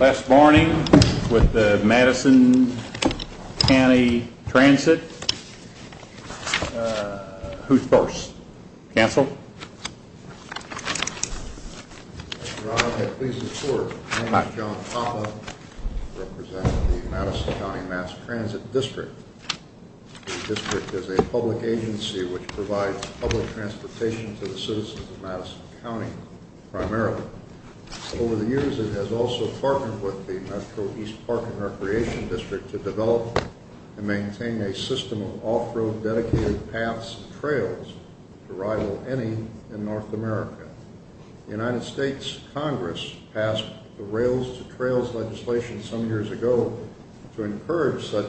Last morning, with the Madison County Transit, who's first? Council? Mr. Roddick, I'm pleased to report, my name is John Poppa. I represent the Madison County Mass Transit District. The district is a public agency which provides public transportation to the citizens of Madison County, primarily. Over the years, it has also partnered with the Metro East Park and Recreation District to develop and maintain a system of off-road dedicated paths and trails to rival any in North America. The United States Congress passed the Rails to Trails legislation some years ago to encourage such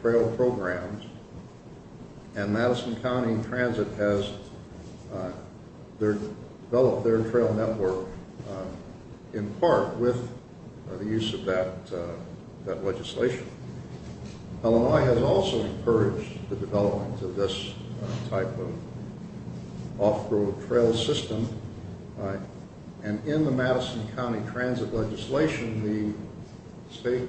trail programs, and Madison County Transit has developed their trail network in part with the use of that legislation. Illinois has also encouraged the development of this type of off-road trail system, and in the Madison County Transit legislation, the state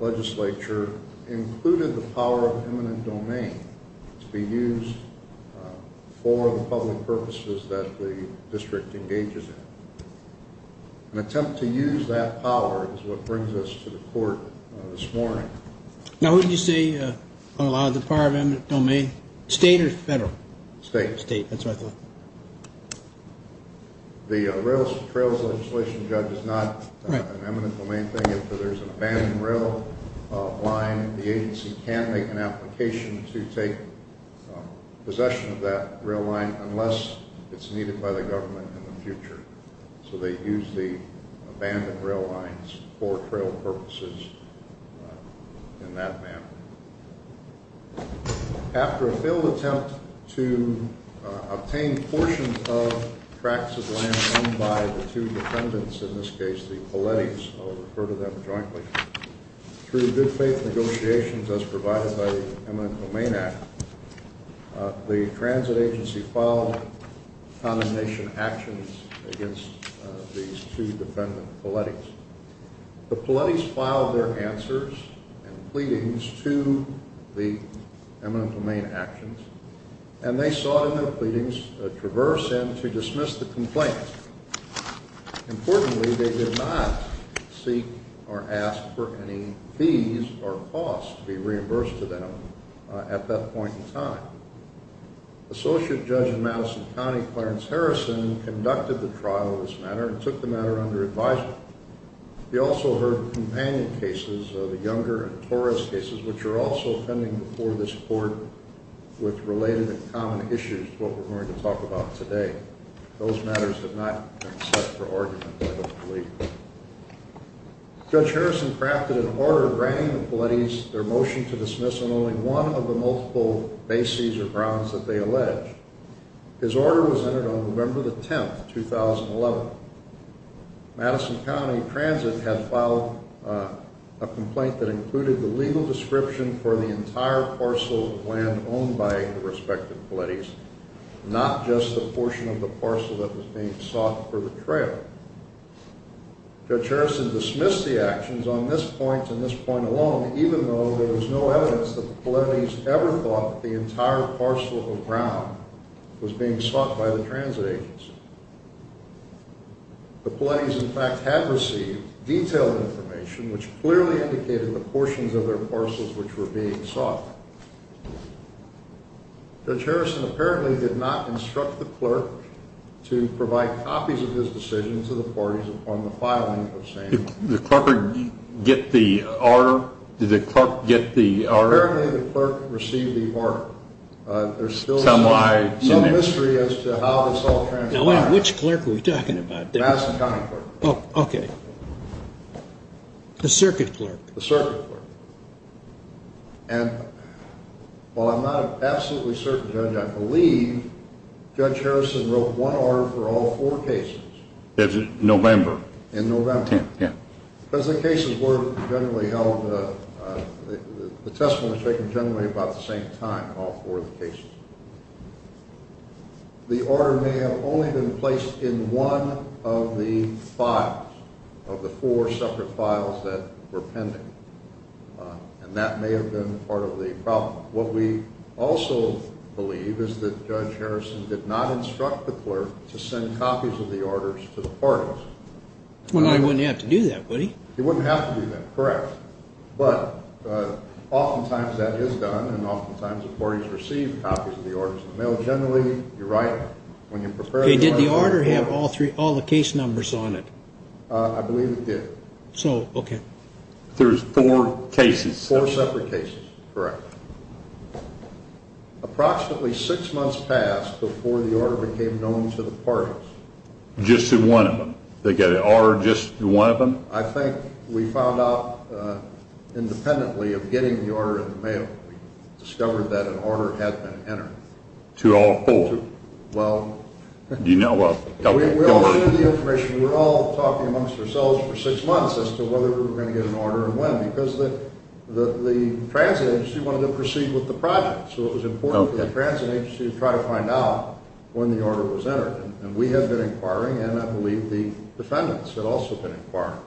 legislature included the power of eminent domain to be used for the public purposes that the district engages in. An attempt to use that power is what brings us to the court this morning. Now, would you say Illinois has the power of eminent domain, state or federal? State. State, that's what I thought. The Rails to Trails legislation, Judge, is not an eminent domain thing. If there's an abandoned rail line, the agency can make an application to take possession of that rail line unless it's needed by the government in the future. So they use the abandoned rail lines for trail purposes in that manner. After a failed attempt to obtain portions of tracts of land owned by the two defendants, in this case the Palettis, I'll refer to them jointly, through good faith negotiations as provided by the Eminent Domain Act, the transit agency filed condemnation actions against these two defendant Palettis. The Palettis filed their answers and pleadings to the Eminent Domain actions, and they sought in their pleadings to traverse and to dismiss the complaint. Importantly, they did not seek or ask for any fees or costs to be reimbursed to them at that point in time. Associate Judge in Madison County, Clarence Harrison, conducted the trial of this matter and took the matter under advisement. He also heard companion cases, the Younger and Torres cases, which are also pending before this court with related and common issues to what we're going to talk about today. Those matters have not been set for argument, I don't believe. Judge Harrison crafted an order granting the Palettis their motion to dismiss on only one of the multiple bases or grounds that they alleged. His order was entered on November the 10th, 2011. Madison County Transit had filed a complaint that included the legal description for the entire parcel of land owned by the respective Palettis, not just the portion of the parcel that was being sought for the trail. Judge Harrison dismissed the actions on this point and this point alone, even though there was no evidence that the Palettis ever thought that the entire parcel of ground was being sought by the transit agency. The Palettis, in fact, had received detailed information which clearly indicated the portions of their parcels which were being sought. Judge Harrison apparently did not instruct the clerk to provide copies of his decision to the parties upon the filing of the same. Did the clerk get the order? Apparently, the clerk received the order. There's still no mystery as to how this all transpired. Which clerk are we talking about? Madison County Clerk. The Circuit Clerk? The Circuit Clerk. And while I'm not absolutely certain, Judge, I believe Judge Harrison wrote one order for all four cases. November. In November. Yeah. Because the cases were generally held, the testimony was taken generally about the same time in all four of the cases. The order may have only been placed in one of the files, of the four separate files that were pending. And that may have been part of the problem. What we also believe is that Judge Harrison did not instruct the clerk to send copies of the orders to the parties. Well, he wouldn't have to do that, would he? He wouldn't have to do that, correct. But oftentimes that is done, and oftentimes the parties receive copies of the orders in the mail. Generally, you write them. Did the order have all the case numbers on it? I believe it did. So, okay. Four separate cases. Four separate cases, correct. Approximately six months passed before the order became known to the parties. Just to one of them? They get an order just to one of them? I think we found out independently of getting the order in the mail, we discovered that an order had been entered. To all four? Well, Do you know of a couple? We all knew the information. We were all talking amongst ourselves for six months as to whether we were going to get an order and when. Because the transit agency wanted to proceed with the project, so it was important for the transit agency to try to find out when the order was entered. And we had been inquiring, and I believe the defendants had also been inquiring.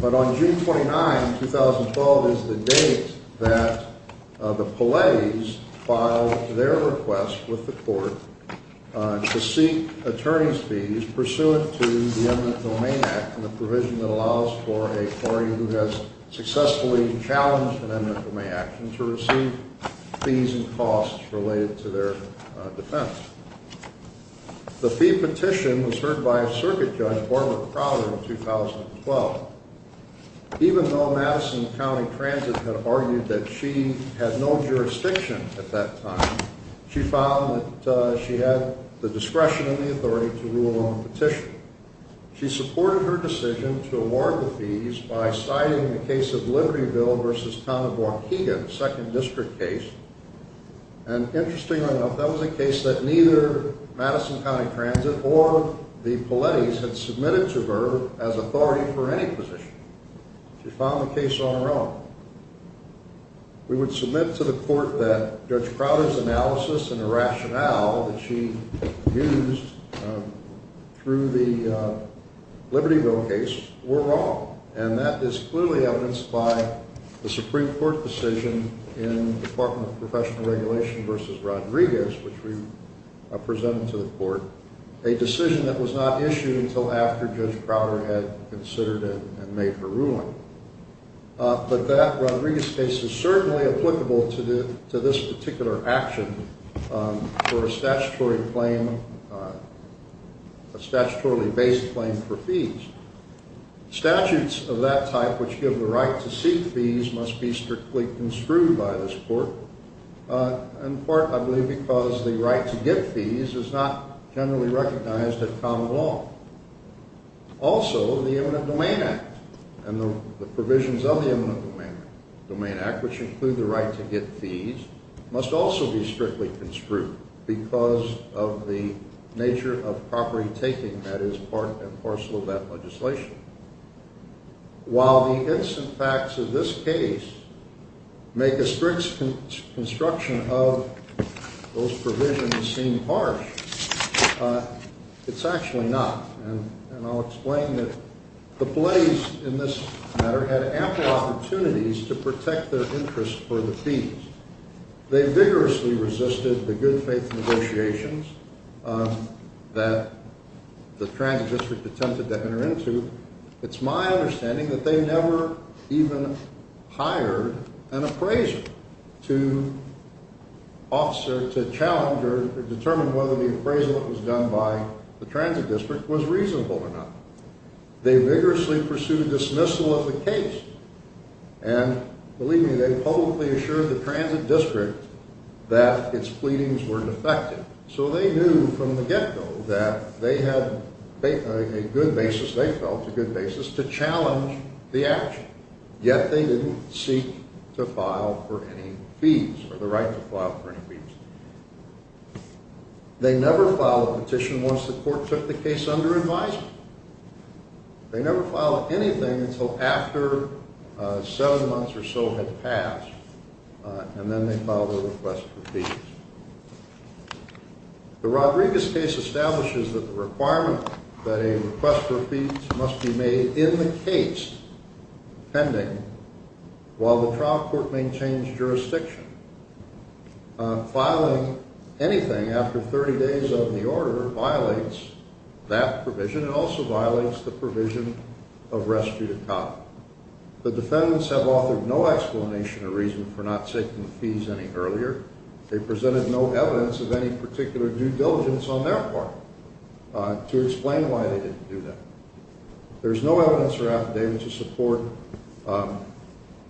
But on June 29, 2012 is the date that the Palais filed their request with the court to seek attorney's fees pursuant to the Eminent Domain Act and the provision that allows for a party who has successfully challenged an eminent domain action to receive fees and costs related to their defense. The fee petition was heard by a circuit judge, Barbara Crowder, in 2012. Even though Madison County Transit had argued that she had no jurisdiction at that time, she found that she had the discretion and the authority to rule on the petition. She supported her decision to award the fees by citing the case of Libertyville v. Town of Waukegan, a second district case. And interestingly enough, that was a case that neither Madison County Transit or the Palais had submitted to her as authority for any position. She filed the case on her own. We would submit to the court that Judge Crowder's analysis and the rationale that she used through the Libertyville case were wrong. And that is clearly evidenced by the Supreme Court decision in the Department of Professional Regulation v. Rodriguez, which we presented to the court, a decision that was not issued until after Judge Crowder had considered it and made her ruling. But that Rodriguez case is certainly applicable to this particular action for a statutory claim, a statutorily based claim for fees. Statutes of that type, which give the right to seek fees, must be strictly construed by this court, in part, I believe, because the right to get fees is not generally recognized as common law. Also, the Eminent Domain Act and the provisions of the Eminent Domain Act, which include the right to get fees, must also be strictly construed because of the nature of property taking that is part and parcel of that legislation. While the instant facts of this case make a strict construction of those provisions seem harsh, it's actually not. And I'll explain that the Blades, in this matter, had ample opportunities to protect their interest for the fees. They vigorously resisted the good faith negotiations that the Transit District attempted to enter into. It's my understanding that they never even hired an appraiser to challenge or determine whether the appraisal that was done by the Transit District was reasonable or not. They vigorously pursued dismissal of the case. And, believe me, they publicly assured the Transit District that its pleadings were defective. So they knew from the get-go that they had a good basis, they felt, a good basis to challenge the action. Yet they didn't seek to file for any fees, or the right to file for any fees. They never filed a petition once the court took the case under advisement. They never filed anything until after seven months or so had passed, and then they filed a request for fees. The Rodriguez case establishes that the requirement that a request for fees must be made in the case pending while the trial court maintains jurisdiction. Filing anything after 30 days of the order violates that provision and also violates the provision of rescue to cop. The defendants have offered no explanation or reason for not taking the fees any earlier. They presented no evidence of any particular due diligence on their part to explain why they didn't do that. There is no evidence or affidavit to support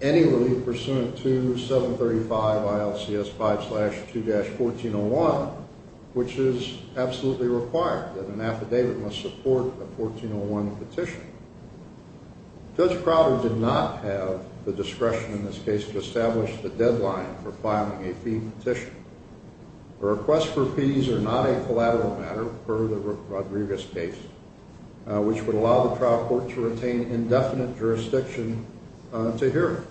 any relief pursuant to 735 ILCS 5-2-1401, which is absolutely required that an affidavit must support a 1401 petition. Judge Crowder did not have the discretion in this case to establish the deadline for filing a fee petition. Requests for fees are not a collateral matter for the Rodriguez case, which would allow the trial court to retain indefinite jurisdiction to hear it.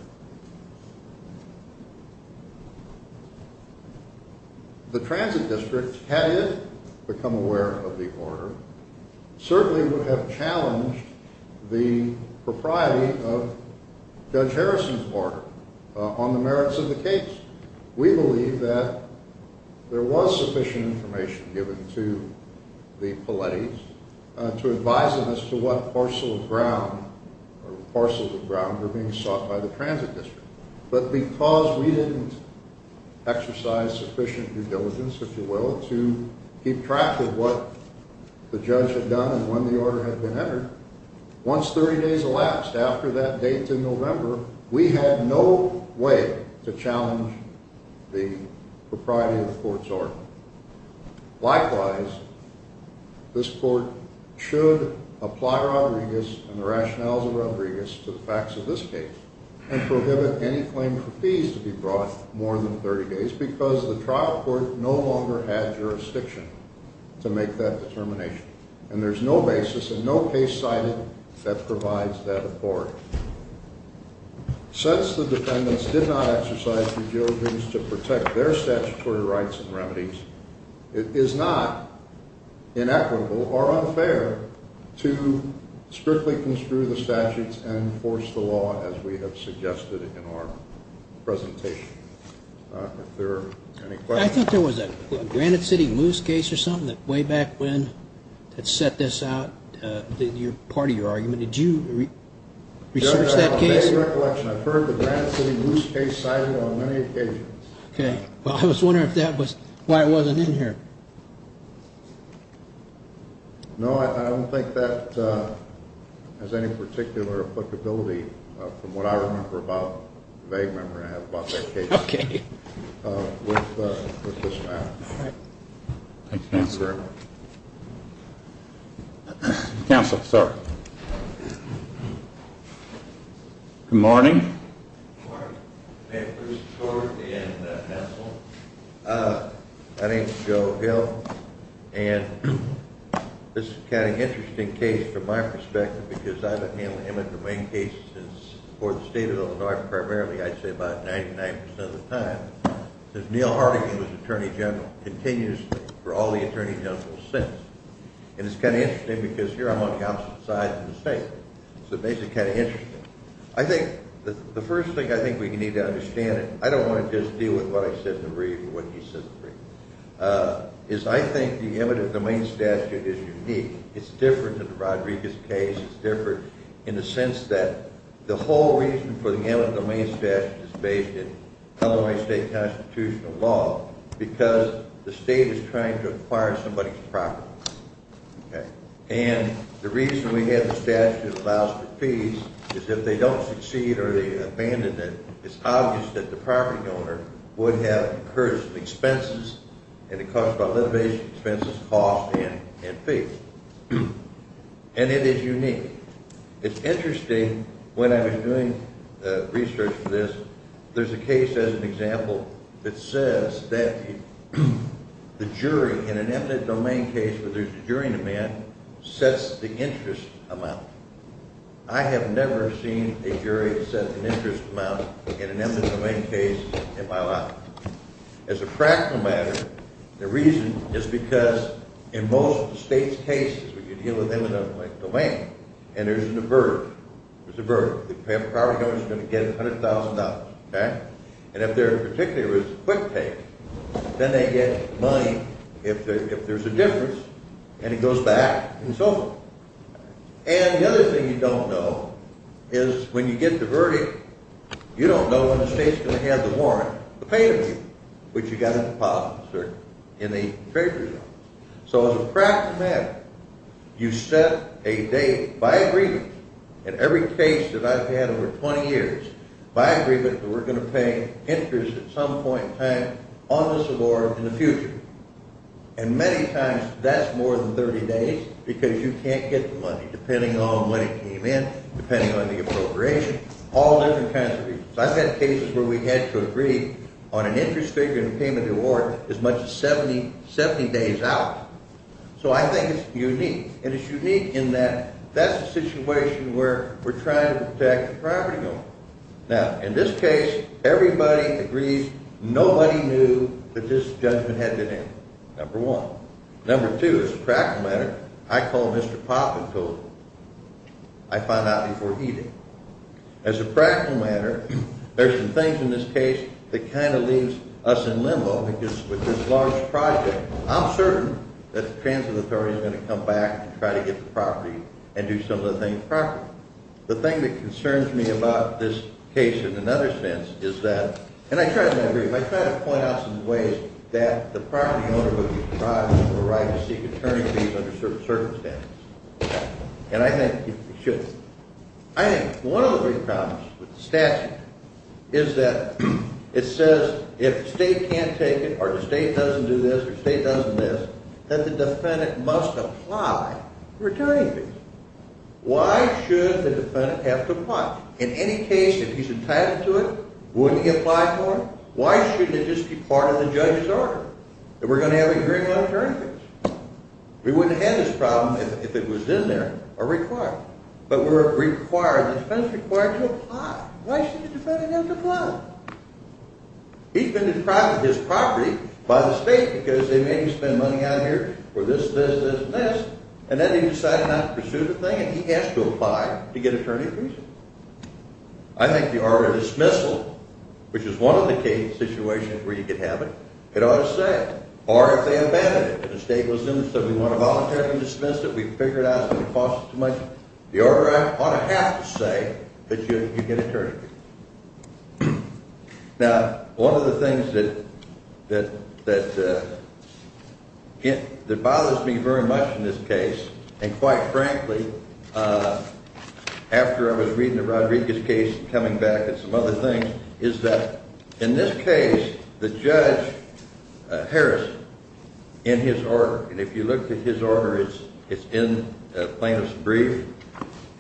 The Transit District, had it become aware of the order, certainly would have challenged the propriety of Judge Harrison's order on the merits of the case. We believe that there was sufficient information given to the Palettis to advise them as to what parcel of ground or parcels of ground were being sought by the Transit District. But because we didn't exercise sufficient due diligence, if you will, to keep track of what the judge had done and when the order had been entered, once 30 days elapsed after that date in November, we had no way to challenge the propriety of the court's order. Likewise, this court should apply Rodriguez and the rationales of Rodriguez to the facts of this case and prohibit any claim for fees to be brought more than 30 days because the trial court no longer had jurisdiction to make that determination. And there's no basis and no case cited that provides that authority. Since the defendants did not exercise due diligence to protect their statutory rights and remedies, it is not inequitable or unfair to strictly construe the statutes and enforce the law as we have suggested in our presentation. If there are any questions. I think there was a Granite City Moose case or something that way back when that set this out, part of your argument. Did you research that case? I have a vague recollection. I've heard the Granite City Moose case cited on many occasions. Okay. Well, I was wondering if that was why it wasn't in here. No, I don't think that has any particular applicability from what I remember about, vague memory I have about that case. Okay. With this matter. Counsel, sir. Good morning. Good morning. My name is Joe Hill. And this is kind of an interesting case from my perspective because I've handled Emmett Dwayne cases for the state of Illinois primarily, I'd say about 99% of the time. Since Neil Harding was Attorney General, continues for all the Attorney Generals since. And it's kind of interesting because here I'm on the opposite side of the state. So it makes it kind of interesting. I think the first thing I think we need to understand, I don't want to just deal with what I said in the brief or what he said in the brief. Is I think the Emmett Dwayne statute is unique. It's different than the Rodriguez case. It's different in the sense that the whole reason for the Emmett Dwayne statute is based in Illinois state constitutional law. Because the state is trying to acquire somebody's property. Okay. And the reason we have the statute allows for fees is if they don't succeed or they abandon it, it's obvious that the property owner would have incurred expenses. And it costs about litigation expenses, costs, and fees. And it is unique. It's interesting when I was doing research for this, there's a case as an example that says that the jury in an Emmett Dwayne case where there's a jury in the man sets the interest amount. I have never seen a jury set an interest amount in an Emmett Dwayne case in my life. As a practical matter, the reason is because in most of the state's cases when you deal with Emmett Dwayne and there's an avert, there's an avert. The property owner is going to get $100,000. Okay. And if there in particular is quick pay, then they get money if there's a difference and it goes back and so forth. And the other thing you don't know is when you get the verdict, you don't know when the state's going to have the warrant to pay it to you, which you've got to deposit in the trade results. So as a practical matter, you set a date by agreement in every case that I've had over 20 years by agreement that we're going to pay interest at some point in time on this award in the future. And many times that's more than 30 days because you can't get the money depending on when it came in, depending on the appropriation, all different kinds of reasons. I've had cases where we had to agree on an interest figure and payment of the award as much as 70 days out. So I think it's unique. And it's unique in that that's a situation where we're trying to protect the property owner. Now, in this case, everybody agrees nobody knew that this judgment had been in, number one. Number two, as a practical matter, I called Mr. Pop and told him I found out before he did. As a practical matter, there's some things in this case that kind of leaves us in limbo because with this large project, I'm certain that the transit authority is going to come back and try to get the property and do some of the things properly. The thing that concerns me about this case in another sense is that – and I try to agree. I try to point out some ways that the property owner would be deprived of the right to seek attorney fees under certain circumstances. And I think you should. I think one of the big problems with the statute is that it says if the state can't take it or the state doesn't do this or the state doesn't do this, that the defendant must apply for attorney fees. Why should the defendant have to apply? In any case, if he's entitled to it, wouldn't he apply for it? Why shouldn't it just be part of the judge's order that we're going to have to agree on attorney fees? We wouldn't have had this problem if it was in there or required. But we're required – the defendant's required to apply. Why should the defendant have to apply? He's been deprived of his property by the state because they made him spend money out here for this, this, this, and this. And then he decided not to pursue the thing, and he has to apply to get attorney fees. I think the order of dismissal, which is one of the case situations where you could have it, it ought to say, or if they abandon it. If the state was in and said we want to voluntarily dismiss it, we've figured out it's going to cost us too much, the order ought to have to say that you get attorney fees. Now, one of the things that bothers me very much in this case, and quite frankly, after I was reading the Rodriguez case and coming back and some other things, is that in this case, the judge, Harris, in his order, and if you look at his order, it's in plaintiff's brief,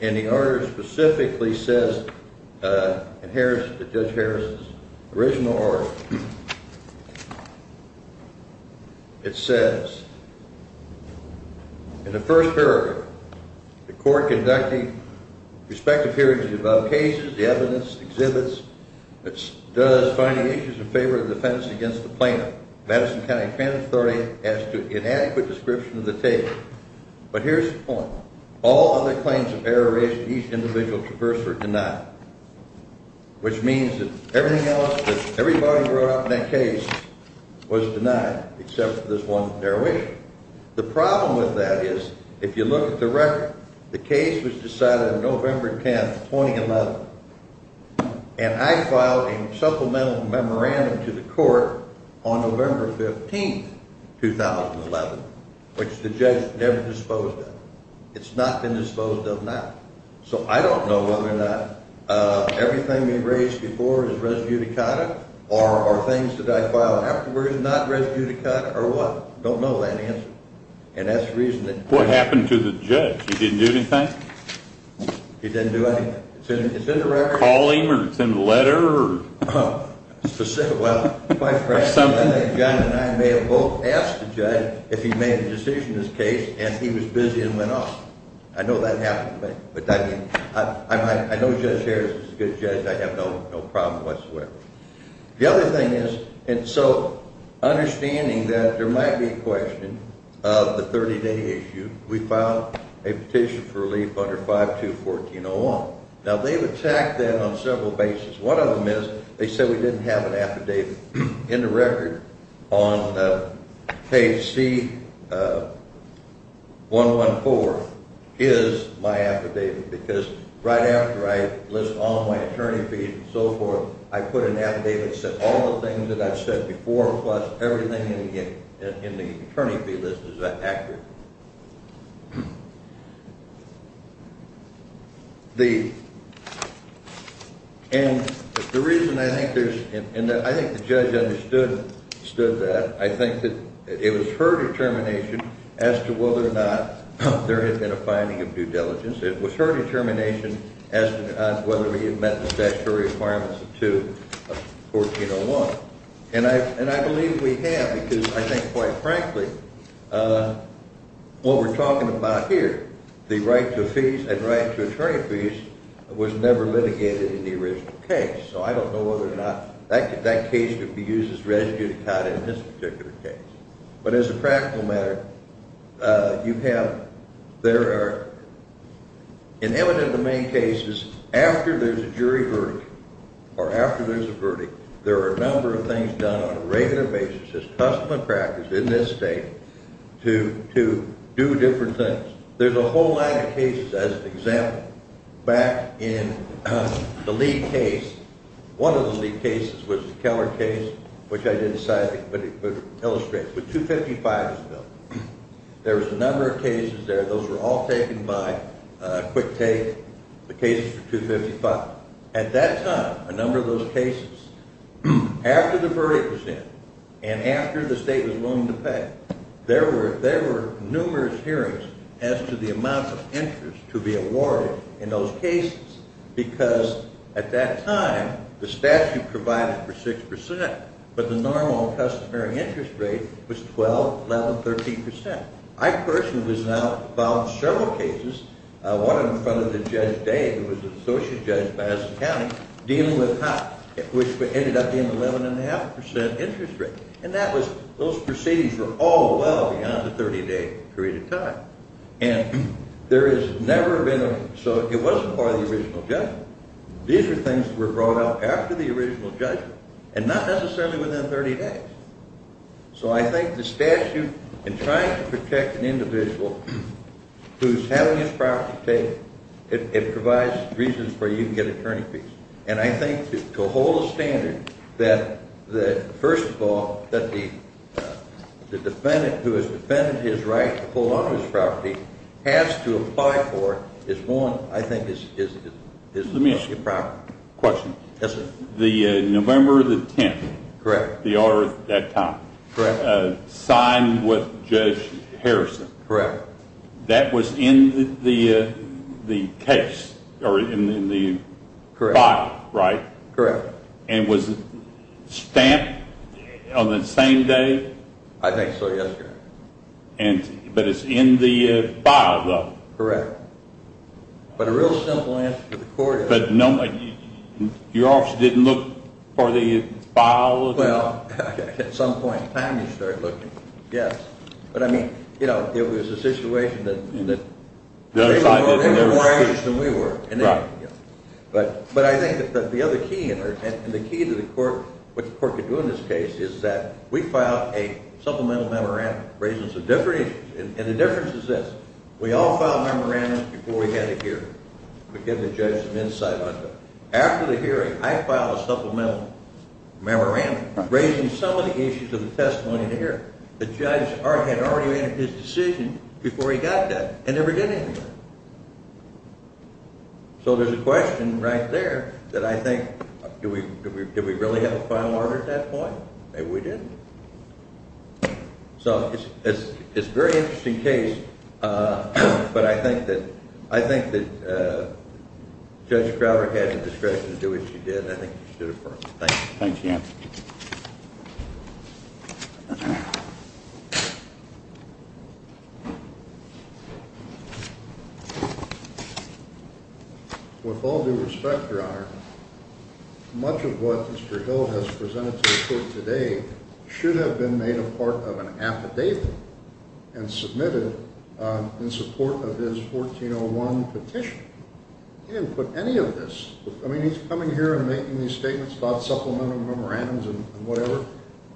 and the order specifically says, in Harris, in Judge Harris's original order, it says, in the first paragraph, the court conducting respective hearings about cases, the evidence, exhibits, does finding issues in favor of the defense against the plaintiff. Madison County Criminal Authority has an inadequate description of the case. But here's the point. All other claims of error raised to each individual traverse were denied, which means that everything else, that everybody brought up in that case was denied, except for this one derivation. The problem with that is, if you look at the record, the case was decided on November 10, 2011, and I filed a supplemental memorandum to the court on November 15, 2011, which the judge never disposed of. It's not been disposed of now. So I don't know whether or not everything we raised before is res judicata, or things that I filed afterward is not res judicata, or what. I don't know that answer. And that's the reason that… What happened to the judge? He didn't do anything? He didn't do anything. It's in the record. Call him, or it's in the letter, or… Well, my friend, I think John and I may have both asked the judge if he made a decision in this case, and he was busy and went off. I know that happened to me. But I mean, I know Judge Harris is a good judge. I have no problem whatsoever. The other thing is, and so understanding that there might be a question of the 30-day issue, we filed a petition for relief under 5214-01. Now, they've attacked that on several bases. One of them is they said we didn't have an affidavit in the record on page C114 is my affidavit, because right after I list all my attorney fees and so forth, I put an affidavit that said all the things that I've said before plus everything in the attorney fee list is accurate. And the reason I think there's – and I think the judge understood that. I think that it was her determination as to whether or not there had been a finding of due diligence. It was her determination as to whether we had met the statutory requirements of 14-01. And I believe we have, because I think, quite frankly, what we're talking about here, the right to fees and right to attorney fees, was never litigated in the original case. So I don't know whether or not that case could be used as residue to cut it in this particular case. But as a practical matter, you have – there are – in evident domain cases, after there's a jury verdict or after there's a verdict, there are a number of things done on a regular basis as custom and practice in this state to do different things. There's a whole line of cases. As an example, back in the Lee case, one of the Lee cases was the Keller case, which I didn't cite but illustrate. But 255 was built. There was a number of cases there. Those were all taken by quick take, the cases for 255. At that time, a number of those cases, after the verdict was in and after the state was willing to pay, there were numerous hearings as to the amount of interest to be awarded in those cases, because at that time, the statute provided for 6 percent, but the normal customary interest rate was 12, 11, 13 percent. I personally was now involved in several cases, one in front of Judge Day, who was the Associate Judge of Madison County, dealing with HOP, which ended up being 11.5 percent interest rate. And that was – those proceedings were all well beyond the 30-day period of time. And there has never been a – so it wasn't by the original judgment. These are things that were brought up after the original judgment and not necessarily within 30 days. So I think the statute, in trying to protect an individual who's having his property taken, it provides reasons where you can get attorney fees. And I think to hold a standard that, first of all, that the defendant who has defended his right to hold on to his property has to apply for is one, I think, that's the problem. Let me ask you a question. Yes, sir. The November the 10th – Correct. – the order at that time – Correct. – signed with Judge Harrison. Correct. That was in the case or in the file, right? Correct. And was it stamped on the same day? I think so, yes, sir. But it's in the file, though. Correct. But a real simple answer to the court is – But your office didn't look for the file? Well, at some point in time you start looking, yes. But, I mean, you know, it was a situation that – The other side – They were a little more anxious than we were. Right. But I think that the other key – and the key to the court – what the court could do in this case is that we filed a supplemental memorandum raising some different issues. And the difference is this. We all filed memorandums before we had a hearing. We give the judge some insight on that. After the hearing, I filed a supplemental memorandum raising some of the issues of the testimony in the hearing. The judge had already made his decision before he got that and never did anymore. So there's a question right there that I think – did we really have a final order at that point? Maybe we didn't. So it's a very interesting case, but I think that Judge Crowder had the discretion to do what she did, and I think she did it perfectly. Thank you. Thanks, Dan. With all due respect, Your Honor, much of what Mr. Hill has presented to the court today should have been made a part of an affidavit and submitted in support of his 1401 petition. He didn't put any of this – I mean, he's coming here and making these statements about supplemental memorandums and whatever.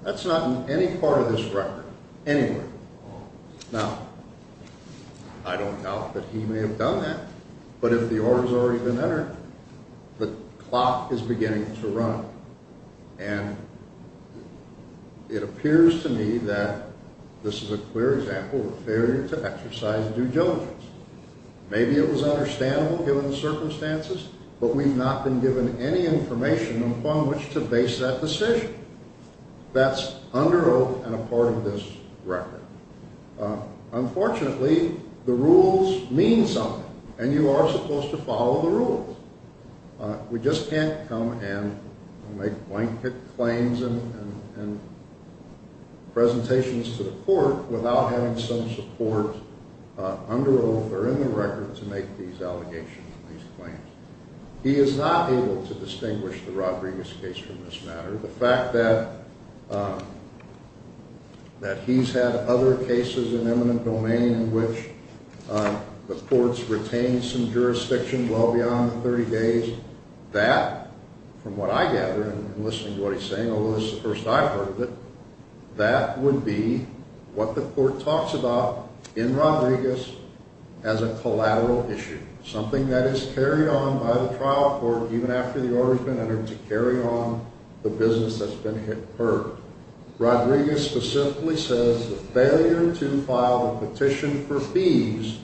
That's not in any part of this record anywhere. Now, I don't doubt that he may have done that, but if the order has already been entered, the clock is beginning to run. And it appears to me that this is a clear example of a failure to exercise due diligence. Maybe it was understandable given the circumstances, but we've not been given any information upon which to base that decision. That's under oath and a part of this record. Unfortunately, the rules mean something, and you are supposed to follow the rules. We just can't come and make blanket claims and presentations to the court without having some support under oath or in the record to make these allegations and these claims. He is not able to distinguish the Rodriguez case from this matter. The fact that he's had other cases in eminent domain in which the courts retained some jurisdiction well beyond the 30 days, that, from what I gather in listening to what he's saying, although this is the first I've heard of it, that would be what the court talks about in Rodriguez as a collateral issue, something that is carried on by the trial court even after the order has been entered to carry on the business that's been incurred. Rodriguez specifically says the failure to file a petition for fees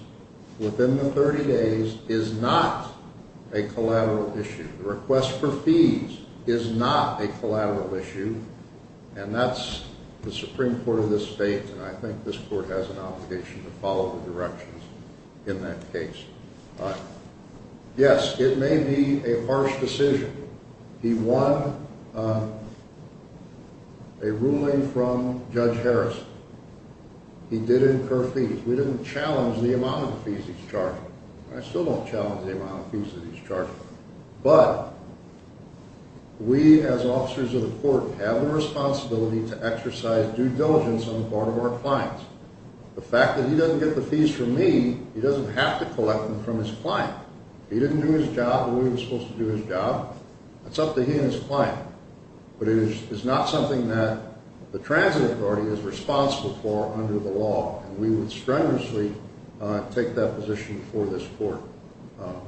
within the 30 days is not a collateral issue. The request for fees is not a collateral issue, and that's the Supreme Court of this state, and I think this court has an obligation to follow the directions in that case. Yes, it may be a harsh decision. He won a ruling from Judge Harris. He did incur fees. We didn't challenge the amount of fees he's charging. I still don't challenge the amount of fees that he's charging. But we, as officers of the court, have the responsibility to exercise due diligence on the part of our clients. The fact that he doesn't get the fees from me, he doesn't have to collect them from his client. He didn't do his job the way he was supposed to do his job. It's up to he and his client. But it is not something that the transit authority is responsible for under the law, and we would strenuously take that position for this court.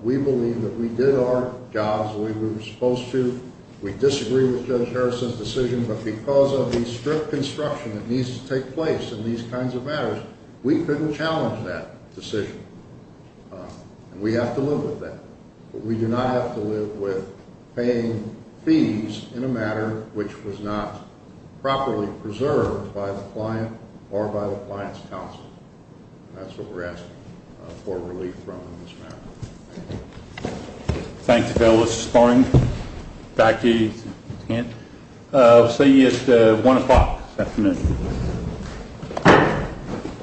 We believe that we did our jobs the way we were supposed to. We disagree with Judge Harris's decision, but because of the strict construction that needs to take place in these kinds of matters, we couldn't challenge that decision, and we have to live with that. But we do not have to live with paying fees in a matter which was not properly preserved by the client or by the client's counsel. That's what we're asking for relief from in this matter. Thank you. Thank you, Bill. This is Thorne. Back to you, Kent. I'll see you at 1 o'clock this afternoon.